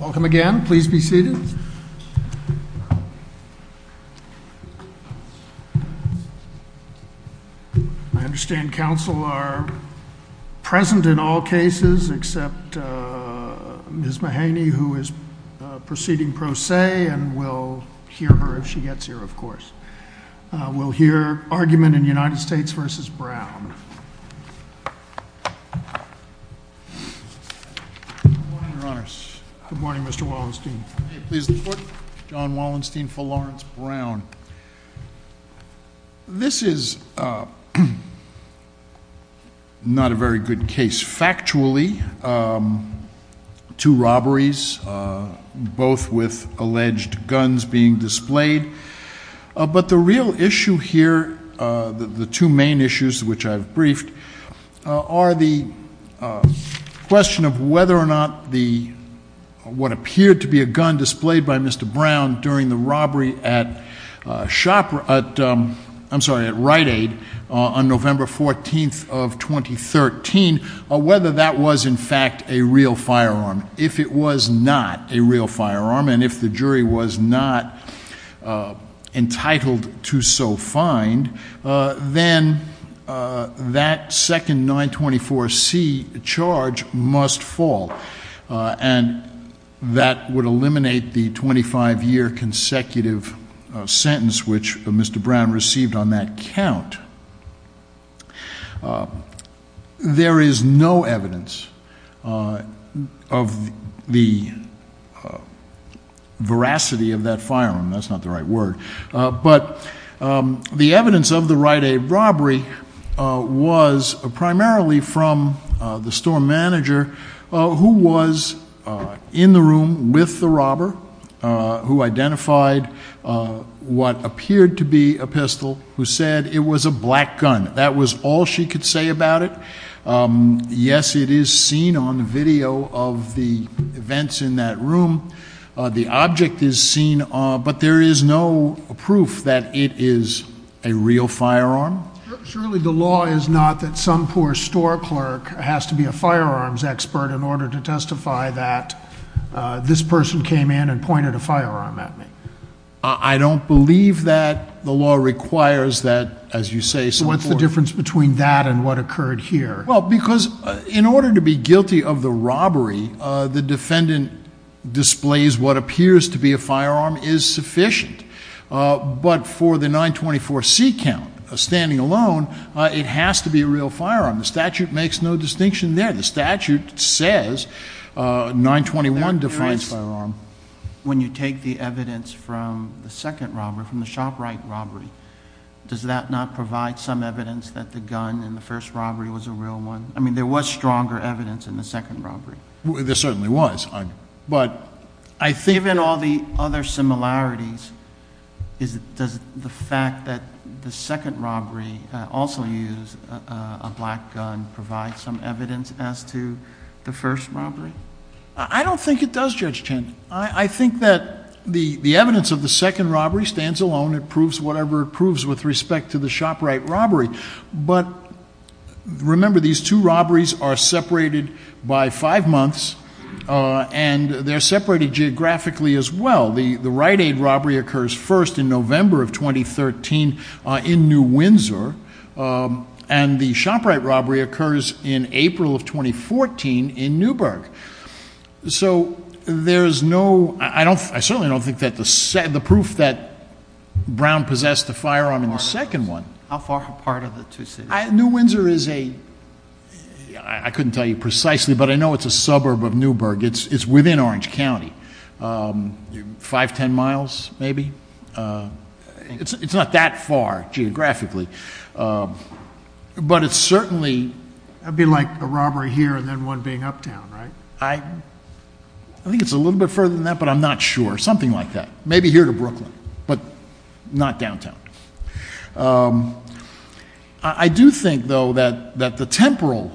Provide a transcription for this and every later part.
I understand counsel are present in all cases except Ms. Mahaney, who is proceeding pro se, and we'll hear her if she gets here, of course. We'll hear argument in United States v. Brown. Good morning, Mr. Wallenstein. John Wallenstein v. Lawrence Brown. This is not a very good case. Factually, two robberies, both with alleged guns being displayed. But the real issue here, the two main issues which I've briefed, are the question of whether or not what appeared to be a gun displayed by Mr. Brown during the robbery at Rite Aid on November 14th of 2013, whether that was in fact a real firearm. If it was not a real firearm, and if the jury was not entitled to so find, then that second 924C charge must fall. And that would eliminate the 25-year consecutive sentence which Mr. Brown received on that count. There is no evidence of the veracity of that firearm. That's not the right word. But the evidence of the Rite Aid robbery was primarily from the store manager who was in the room with the robber, who identified what appeared to be a pistol, who said it was a black gun. That was all she could say about it. Yes, it is seen on video of the events in that room. The object is seen, but there is no proof that it is a real firearm. Surely the law is not that some poor store clerk has to be a firearms expert in order to testify that this person came in and pointed a firearm at me. I don't believe that. The law requires that, as you say, some poor— What's the difference between that and what occurred here? Well, because in order to be guilty of the robbery, the defendant displays what appears to be a firearm is sufficient. But for the 924C count, standing alone, it has to be a real firearm. The statute makes no distinction there. The statute says 921 defines firearm. When you take the evidence from the second robbery, from the Shop Rite robbery, does that not provide some evidence that the gun in the first robbery was a real one? I mean, there was stronger evidence in the second robbery. There certainly was, but I think— Given all the other similarities, does the fact that the second robbery also used a black gun provide some evidence as to the first robbery? I don't think it does, Judge Chin. I think that the evidence of the second robbery stands alone. It proves whatever it proves with respect to the Shop Rite robbery. But remember, these two robberies are separated by five months, and they're separated geographically as well. The Rite Aid robbery occurs first in November of 2013 in New Windsor, and the Shop Rite robbery occurs in April of 2014 in Newburgh. So there's no—I certainly don't think that the proof that Brown possessed a firearm in the second one— How far apart are the two cities? New Windsor is a—I couldn't tell you precisely, but I know it's a suburb of Newburgh. It's within Orange County, five, ten miles maybe. It's not that far geographically, but it's certainly— That would be like a robbery here and then one being uptown, right? I think it's a little bit further than that, but I'm not sure. Something like that. Maybe here to Brooklyn, but not downtown. I do think, though, that the temporal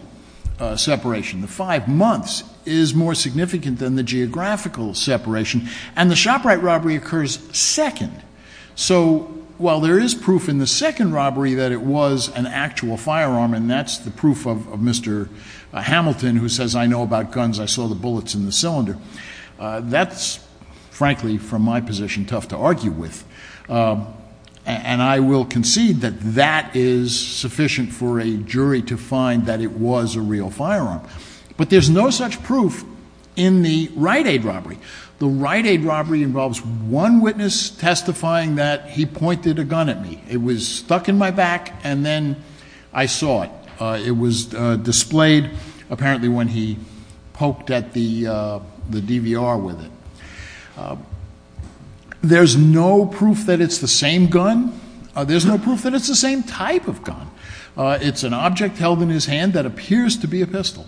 separation, the five months, is more significant than the geographical separation. And the Shop Rite robbery occurs second. So, while there is proof in the second robbery that it was an actual firearm, and that's the proof of Mr. Hamilton, who says, I know about guns, I saw the bullets in the cylinder. That's, frankly, from my position, tough to argue with. And I will concede that that is sufficient for a jury to find that it was a real firearm. But there's no such proof in the Rite Aid robbery. The Rite Aid robbery involves one witness testifying that he pointed a gun at me. It was stuck in my back, and then I saw it. It was displayed, apparently, when he poked at the DVR with it. There's no proof that it's the same gun. There's no proof that it's the same type of gun. It's an object held in his hand that appears to be a pistol.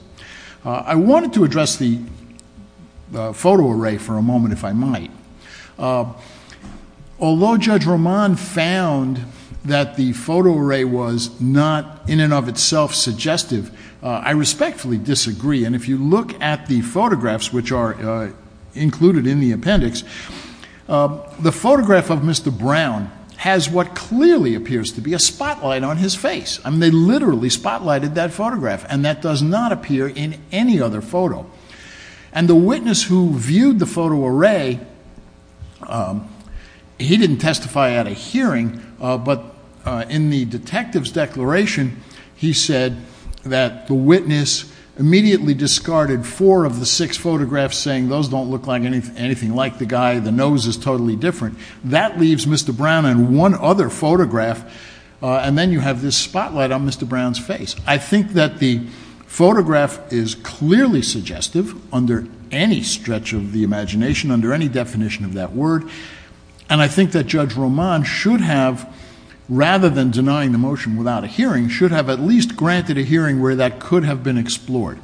I wanted to address the photo array for a moment, if I might. Although Judge Roman found that the photo array was not in and of itself suggestive, I respectfully disagree. And if you look at the photographs, which are included in the appendix, the photograph of Mr. Brown has what clearly appears to be a spotlight on his face. I mean, they literally spotlighted that photograph, and that does not appear in any other photo. And the witness who viewed the photo array, he didn't testify at a hearing, but in the detective's declaration, he said that the witness immediately discarded four of the six photographs, saying those don't look anything like the guy, the nose is totally different. That leaves Mr. Brown and one other photograph, and then you have this spotlight on Mr. Brown's face. I think that the photograph is clearly suggestive under any stretch of the imagination, under any definition of that word. And I think that Judge Roman should have, rather than denying the motion without a hearing, should have at least granted a hearing where that could have been explored.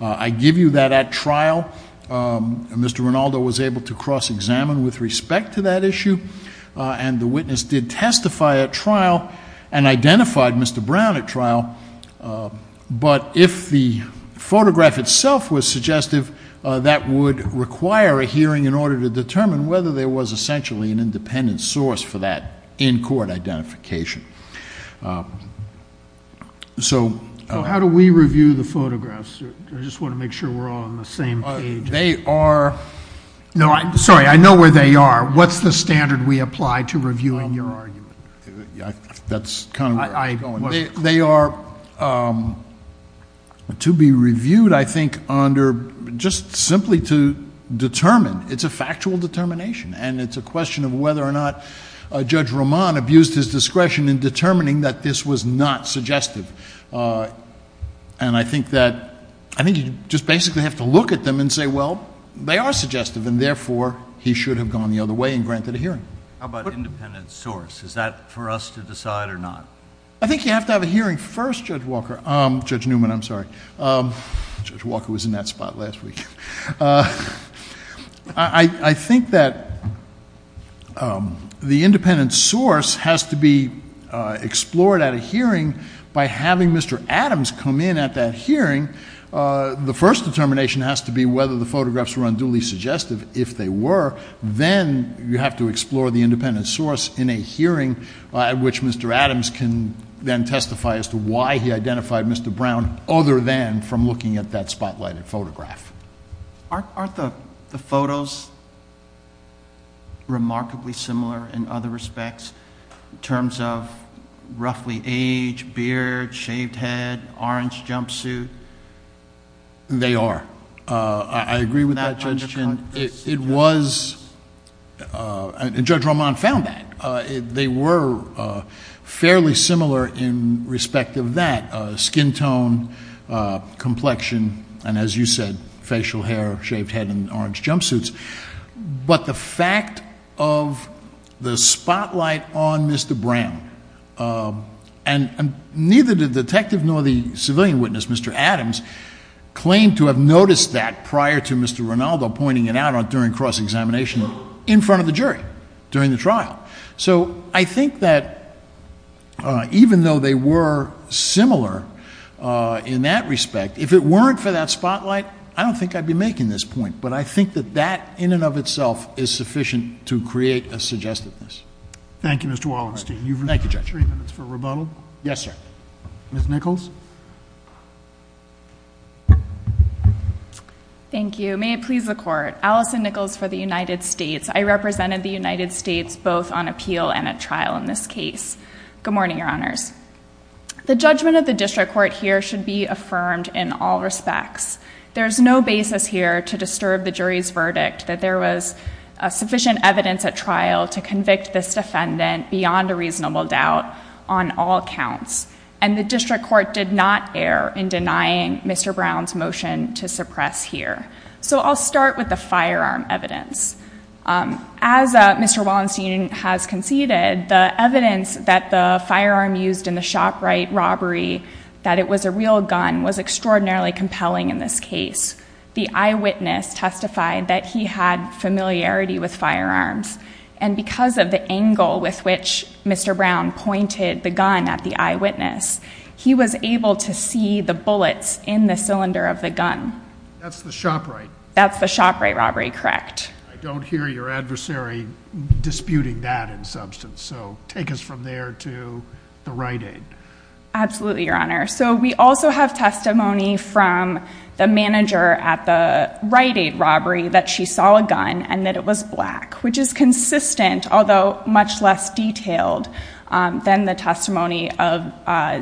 I give you that at trial. Mr. Rinaldo was able to cross-examine with respect to that issue, and the witness did testify at trial and identified Mr. Brown at trial. But if the photograph itself was suggestive, that would require a hearing in order to determine whether there was essentially an independent source for that in-court identification. So how do we review the photographs? I just want to make sure we're all on the same page. They are – no, I'm sorry, I know where they are. What's the standard we apply to reviewing your argument? That's kind of where I'm going. They are to be reviewed, I think, under – just simply to determine. It's a factual determination, and it's a question of whether or not Judge Roman abused his discretion in determining that this was not suggestive. And I think that – I think you just basically have to look at them and say, well, they are suggestive, and therefore he should have gone the other way and granted a hearing. How about independent source? Is that for us to decide or not? I think you have to have a hearing first, Judge Walker – Judge Newman, I'm sorry. Judge Walker was in that spot last week. I think that the independent source has to be explored at a hearing by having Mr. Adams come in at that hearing. The first determination has to be whether the photographs were unduly suggestive. If they were, then you have to explore the independent source in a hearing, which Mr. Adams can then testify as to why he identified Mr. Brown, other than from looking at that spotlighted photograph. Aren't the photos remarkably similar in other respects in terms of roughly age, beard, shaved head, orange jumpsuit? They are. I agree with that, Judge. And it was – and Judge Roman found that. They were fairly similar in respect of that, skin tone, complexion, and as you said, facial hair, shaved head, and orange jumpsuits. But the fact of the spotlight on Mr. Brown, and neither the detective nor the civilian witness, Mr. Adams, claimed to have noticed that prior to Mr. Ronaldo pointing it out during cross-examination in front of the jury during the trial. So I think that even though they were similar in that respect, if it weren't for that spotlight, I don't think I'd be making this point. But I think that that in and of itself is sufficient to create a suggestiveness. Thank you, Mr. Wallenstein. Thank you, Judge. You have three minutes for rebuttal. Yes, sir. Ms. Nichols? Thank you. May it please the Court. Allison Nichols for the United States. I represented the United States both on appeal and at trial in this case. Good morning, Your Honors. The judgment of the district court here should be affirmed in all respects. There is no basis here to disturb the jury's verdict that there was sufficient evidence at trial to convict this defendant beyond a reasonable doubt on all counts. And the district court did not err in denying Mr. Brown's motion to suppress here. So I'll start with the firearm evidence. As Mr. Wallenstein has conceded, the evidence that the firearm used in the ShopRite robbery that it was a real gun was extraordinarily compelling in this case. The eyewitness testified that he had familiarity with firearms. And because of the angle with which Mr. Brown pointed the gun at the eyewitness, he was able to see the bullets in the cylinder of the gun. That's the ShopRite? That's the ShopRite robbery, correct. I don't hear your adversary disputing that in substance. So take us from there to the Rite-Aid. Absolutely, Your Honor. So we also have testimony from the manager at the Rite-Aid robbery that she saw a gun and that it was black, which is consistent, although much less detailed than the testimony of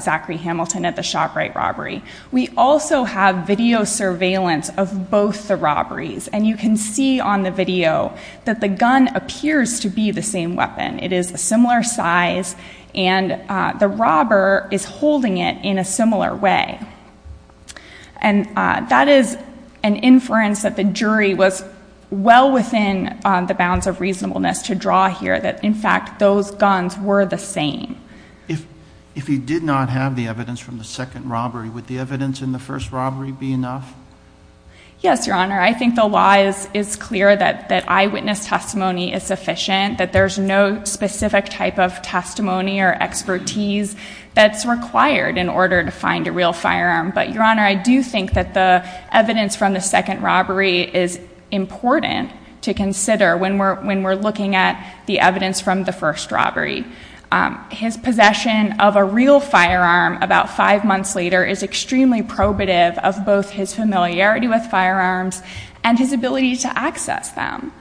Zachary Hamilton at the ShopRite robbery. We also have video surveillance of both the robberies. And you can see on the video that the gun appears to be the same weapon. It is a similar size, and the robber is holding it in a similar way. And that is an inference that the jury was well within the bounds of reasonableness to draw here, that, in fact, those guns were the same. If he did not have the evidence from the second robbery, would the evidence in the first robbery be enough? Yes, Your Honor. I think the law is clear that eyewitness testimony is sufficient, that there's no specific type of testimony or expertise that's required in order to find a real firearm. But, Your Honor, I do think that the evidence from the second robbery is important to consider when we're looking at the evidence from the first robbery. His possession of a real firearm about five months later is extremely probative of both his familiarity with firearms and his ability to access them.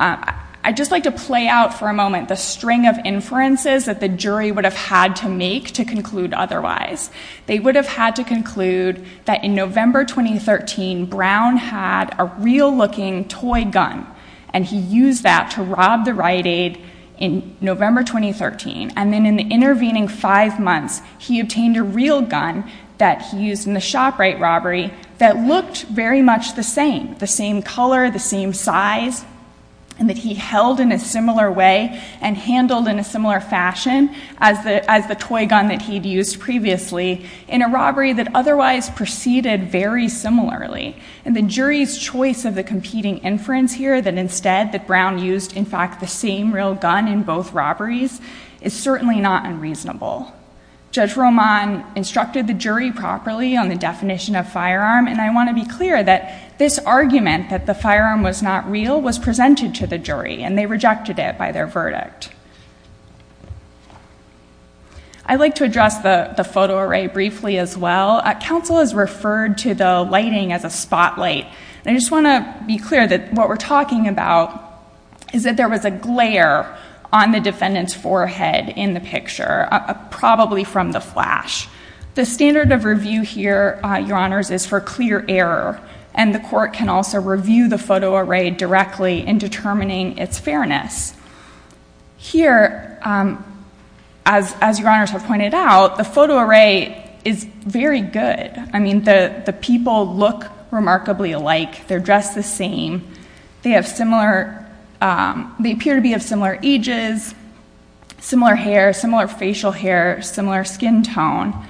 I'd just like to play out for a moment the string of inferences that the jury would have had to make to conclude otherwise. They would have had to conclude that, in November 2013, Brown had a real-looking toy gun, and he used that to rob the riot aid in November 2013. And then, in the intervening five months, he obtained a real gun that he used in the ShopRite robbery that looked very much the same, the same color, the same size, and that he held in a similar way and handled in a similar fashion as the toy gun that he'd used previously in a robbery that otherwise proceeded very similarly. And the jury's choice of the competing inference here, that instead that Brown used, in fact, the same real gun in both robberies, is certainly not unreasonable. Judge Roman instructed the jury properly on the definition of firearm, and I want to be clear that this argument that the firearm was not real was presented to the jury, and they rejected it by their verdict. I'd like to address the photo array briefly as well. Council has referred to the lighting as a spotlight, and I just want to be clear that what we're talking about is that there was a glare on the defendant's forehead in the picture, probably from the flash. The standard of review here, Your Honors, is for clear error, and the court can also review the photo array directly in determining its fairness. Here, as Your Honors have pointed out, the photo array is very good. I mean, the people look remarkably alike. They're dressed the same. They appear to be of similar ages, similar hair, similar facial hair, similar skin tone.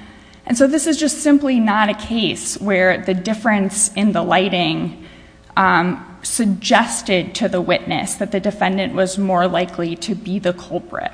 And so this is just simply not a case where the difference in the lighting suggested to the witness that the defendant was more likely to be the culprit.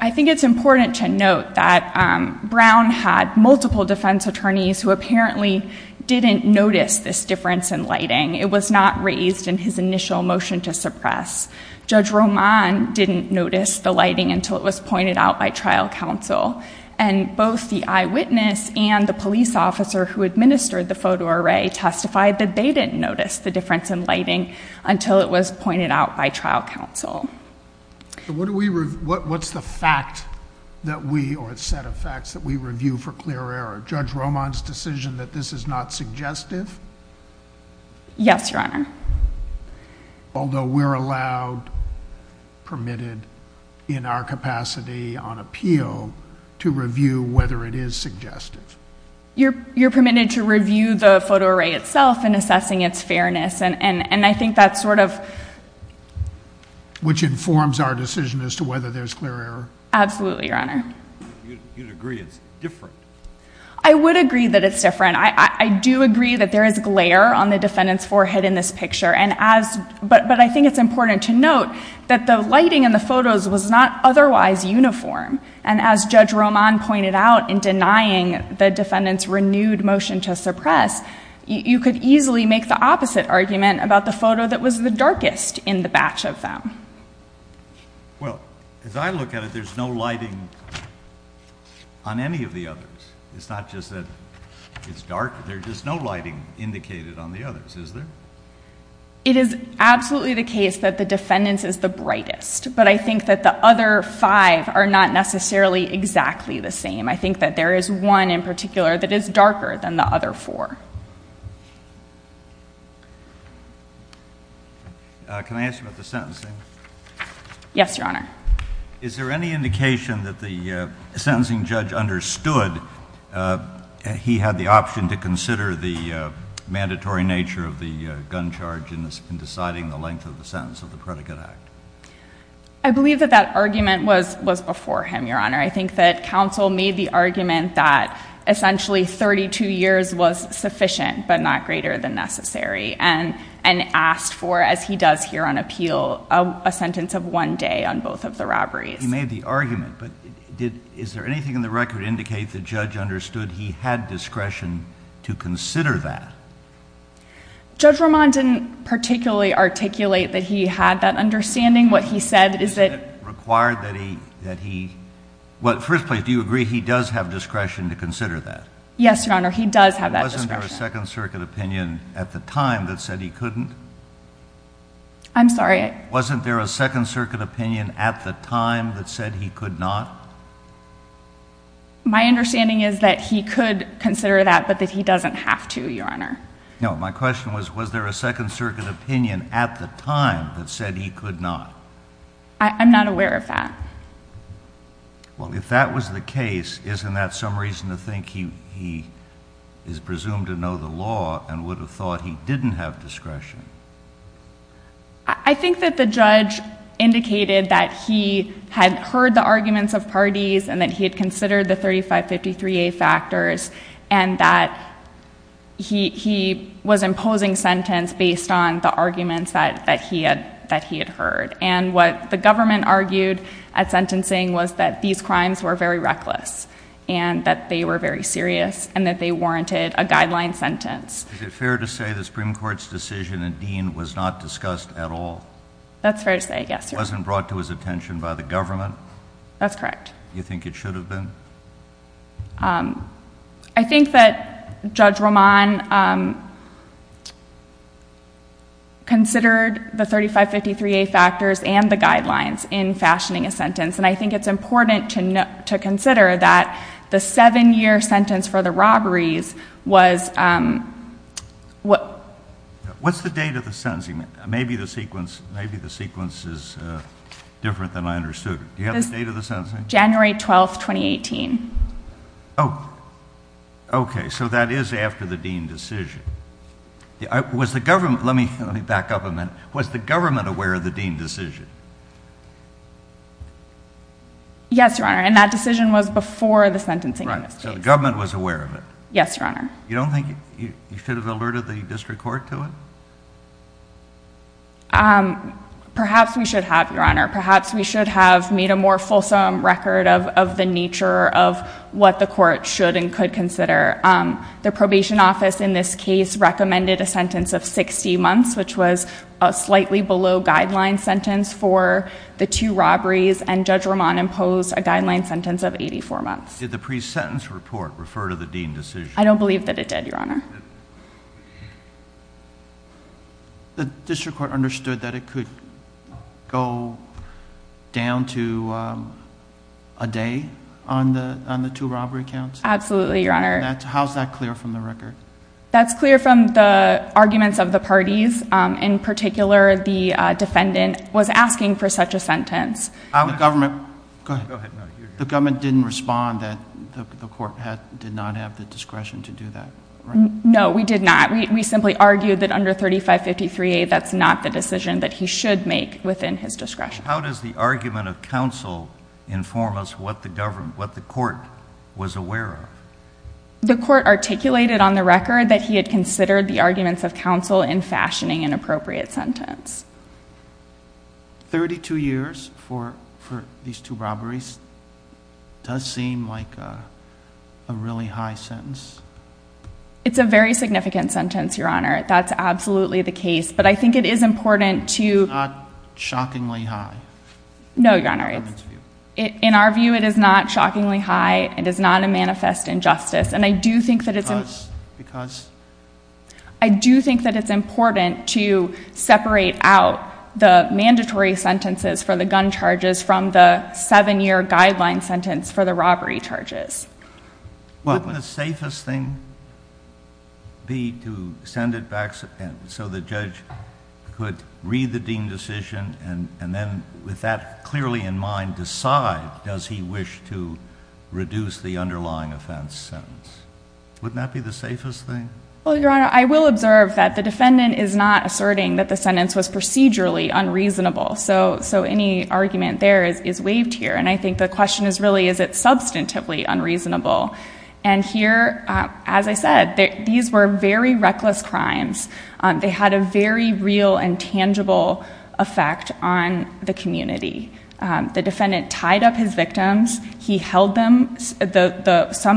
I think it's important to note that Brown had multiple defense attorneys who apparently didn't notice this difference in lighting. It was not raised in his initial motion to suppress. Judge Roman didn't notice the lighting until it was pointed out by trial counsel. And both the eyewitness and the police officer who administered the photo array testified that they didn't notice the difference in lighting until it was pointed out by trial counsel. What's the fact that we, or set of facts, that we review for clear error? Judge Roman's decision that this is not suggestive? Yes, Your Honor. Although we're allowed, permitted, in our capacity on appeal, to review whether it is suggestive. You're permitted to review the photo array itself in assessing its fairness. And I think that's sort of... Which informs our decision as to whether there's clear error. Absolutely, Your Honor. You'd agree it's different. I would agree that it's different. I do agree that there is glare on the defendant's forehead in this picture. But I think it's important to note that the lighting in the photos was not otherwise uniform. And as Judge Roman pointed out in denying the defendant's renewed motion to suppress, you could easily make the opposite argument about the photo that was the darkest in the batch of them. Well, as I look at it, there's no lighting on any of the others. It's not just that it's dark. There's no lighting indicated on the others, is there? It is absolutely the case that the defendant's is the brightest. But I think that the other five are not necessarily exactly the same. I think that there is one in particular that is darker than the other four. Can I ask you about the sentencing? Yes, Your Honor. Is there any indication that the sentencing judge understood he had the option to consider the mandatory nature of the gun charge in deciding the length of the sentence of the Predicate Act? I believe that that argument was before him, Your Honor. I think that counsel made the argument that essentially 32 years was sufficient but not greater than necessary and asked for, as he does here on appeal, a sentence of one day on both of the robberies. He made the argument, but is there anything in the record that indicates the judge understood he had discretion to consider that? Judge Roman didn't particularly articulate that he had that understanding. What he said is that... Required that he... Well, first place, do you agree he does have discretion to consider that? Yes, Your Honor, he does have that discretion. Wasn't there a Second Circuit opinion at the time that said he couldn't? I'm sorry? Wasn't there a Second Circuit opinion at the time that said he could not? My understanding is that he could consider that but that he doesn't have to, Your Honor. No, my question was, was there a Second Circuit opinion at the time that said he could not? I'm not aware of that. Well, if that was the case, isn't that some reason to think he is presumed to know the law and would have thought he didn't have discretion? I think that the judge indicated that he had heard the arguments of parties and that he had considered the 3553A factors and that he was imposing sentence based on the arguments that he had heard. And what the government argued at sentencing was that these crimes were very reckless and that they were very serious and that they warranted a guideline sentence. Is it fair to say the Supreme Court's decision in Dean was not discussed at all? That's fair to say, yes, Your Honor. It wasn't brought to his attention by the government? That's correct. Do you think it should have been? I think that Judge Roman considered the 3553A factors and the guidelines in fashioning a sentence, and I think it's important to consider that the seven-year sentence for the robberies was... What's the date of the sentencing? Maybe the sequence is different than I understood. Do you have the date of the sentencing? January 12, 2018. Oh, okay. So that is after the Dean decision. Was the government... let me back up a minute. Was the government aware of the Dean decision? Yes, Your Honor, and that decision was before the sentencing. Right, so the government was aware of it. Yes, Your Honor. You don't think you should have alerted the district court to it? Perhaps we should have, Your Honor. Perhaps we should have made a more fulsome record of the nature of what the court should and could consider. The probation office in this case recommended a sentence of 60 months, which was a slightly below-guideline sentence for the two robberies, and Judge Roman imposed a guideline sentence of 84 months. Did the pre-sentence report refer to the Dean decision? I don't believe that it did, Your Honor. The district court understood that it could go down to a day on the two robbery counts? Absolutely, Your Honor. How is that clear from the record? That's clear from the arguments of the parties. In particular, the defendant was asking for such a sentence. The government... go ahead. The government didn't respond that the court did not have the discretion to do that, right? No, we did not. We simply argued that under 3553A, that's not the decision that he should make within his discretion. How does the argument of counsel inform us what the court was aware of? The court articulated on the record that he had considered the arguments of counsel in fashioning an appropriate sentence. Thirty-two years for these two robberies does seem like a really high sentence. It's a very significant sentence, Your Honor. That's absolutely the case, but I think it is important to... It's not shockingly high in the government's view. No, Your Honor. In our view, it is not shockingly high. It is not a manifest injustice, and I do think that it's... Because? I do think that it's important to separate out the mandatory sentences for the gun charges from the seven-year guideline sentence for the robbery charges. Wouldn't the safest thing be to send it back so the judge could read the deemed decision and then, with that clearly in mind, decide does he wish to reduce the underlying offense sentence? Wouldn't that be the safest thing? Well, Your Honor, I will observe that the defendant is not asserting that the sentence was procedurally unreasonable. So, any argument there is waived here, and I think the question is really is it substantively unreasonable? And here, as I said, these were very reckless crimes. They had a very real and tangible effect on the community. The defendant tied up his victims. He held some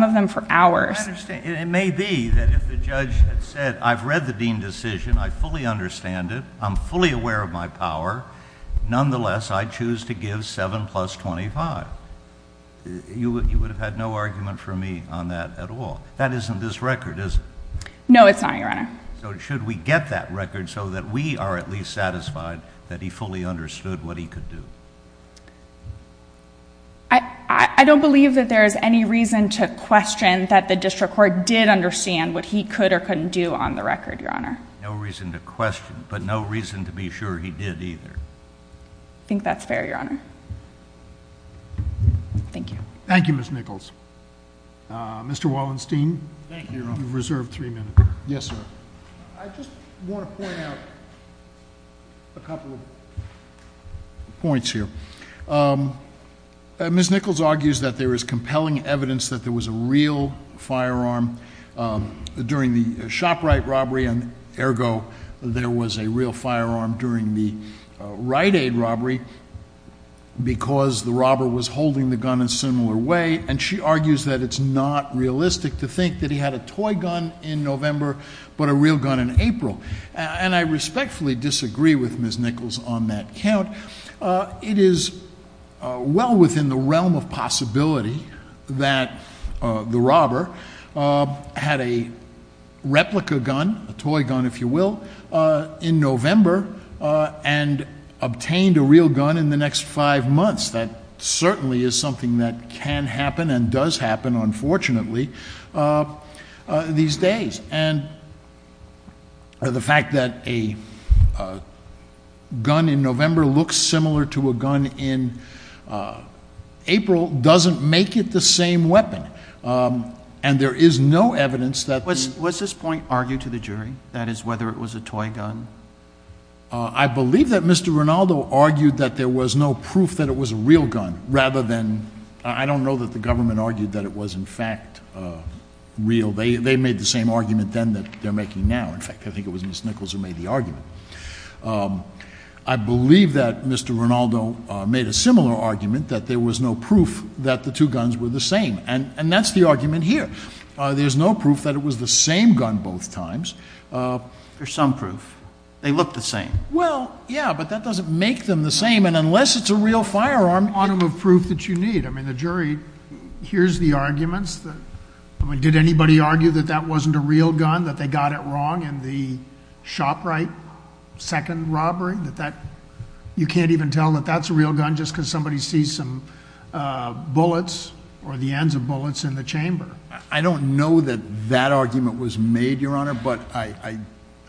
of them for hours. I understand. It may be that if the judge had said, I've read the deemed decision. I fully understand it. I'm fully aware of my power. Nonetheless, I choose to give 7 plus 25. You would have had no argument for me on that at all. That isn't this record, is it? No, it's not, Your Honor. So, should we get that record so that we are at least satisfied that he fully understood what he could do? I don't believe that there is any reason to question that the district court did understand what he could or couldn't do on the record, Your Honor. No reason to question, but no reason to be sure he did either. I think that's fair, Your Honor. Thank you. Thank you, Ms. Nichols. Mr. Wallenstein. Thank you, Your Honor. You have reserved three minutes. Yes, sir. I just want to point out a couple of points here. Ms. Nichols argues that there is compelling evidence that there was a real firearm during the Shoprite robbery, and, ergo, there was a real firearm during the Rite Aid robbery because the robber was holding the gun in a similar way. And she argues that it's not realistic to think that he had a toy gun in November but a real gun in April. And I respectfully disagree with Ms. Nichols on that count. It is well within the realm of possibility that the robber had a replica gun, a toy gun, if you will, in November and obtained a real gun in the next five months. That certainly is something that can happen and does happen, unfortunately, these days. And the fact that a gun in November looks similar to a gun in April doesn't make it the same weapon. And there is no evidence that the ---- Was this point argued to the jury, that is, whether it was a toy gun? I believe that Mr. Rinaldo argued that there was no proof that it was a real gun rather than ---- I don't know that the government argued that it was, in fact, real. They made the same argument then that they're making now. In fact, I think it was Ms. Nichols who made the argument. I believe that Mr. Rinaldo made a similar argument, that there was no proof that the two guns were the same. And that's the argument here. There's no proof that it was the same gun both times. There's some proof. They look the same. Well, yeah, but that doesn't make them the same. And unless it's a real firearm ---- I don't have proof that you need. I mean, the jury hears the arguments. I mean, did anybody argue that that wasn't a real gun, that they got it wrong in the Shoprite second robbery? You can't even tell that that's a real gun just because somebody sees some bullets or the ends of bullets in the chamber. I don't know that that argument was made, Your Honor, but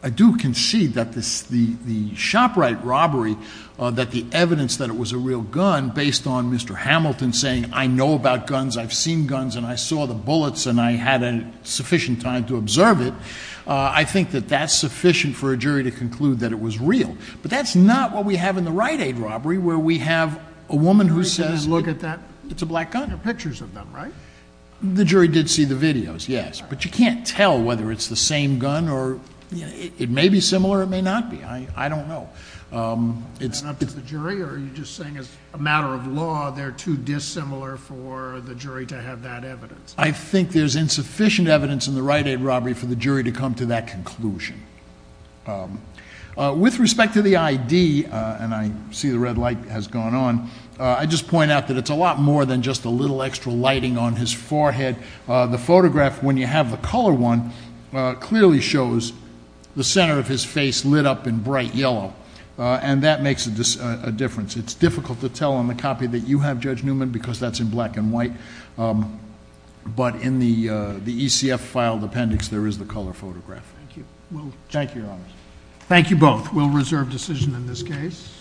I do concede that the Shoprite robbery, that the evidence that it was a real gun based on Mr. Hamilton saying, I know about guns, I've seen guns, and I saw the bullets and I had sufficient time to observe it, I think that that's sufficient for a jury to conclude that it was real. But that's not what we have in the Rite Aid robbery where we have a woman who says ---- Look at that. It's a black gun. There are pictures of them, right? The jury did see the videos, yes. But you can't tell whether it's the same gun or it may be similar or it may not be. I don't know. Is that up to the jury or are you just saying as a matter of law they're too dissimilar for the jury to have that evidence? I think there's insufficient evidence in the Rite Aid robbery for the jury to come to that conclusion. With respect to the ID, and I see the red light has gone on, I just point out that it's a lot more than just a little extra lighting on his forehead. The photograph when you have the color one clearly shows the center of his face lit up in bright yellow, and that makes a difference. It's difficult to tell on the copy that you have, Judge Newman, because that's in black and white, but in the ECF filed appendix there is the color photograph. Thank you. Thank you, Your Honors. Thank you both. We'll reserve decision in this case.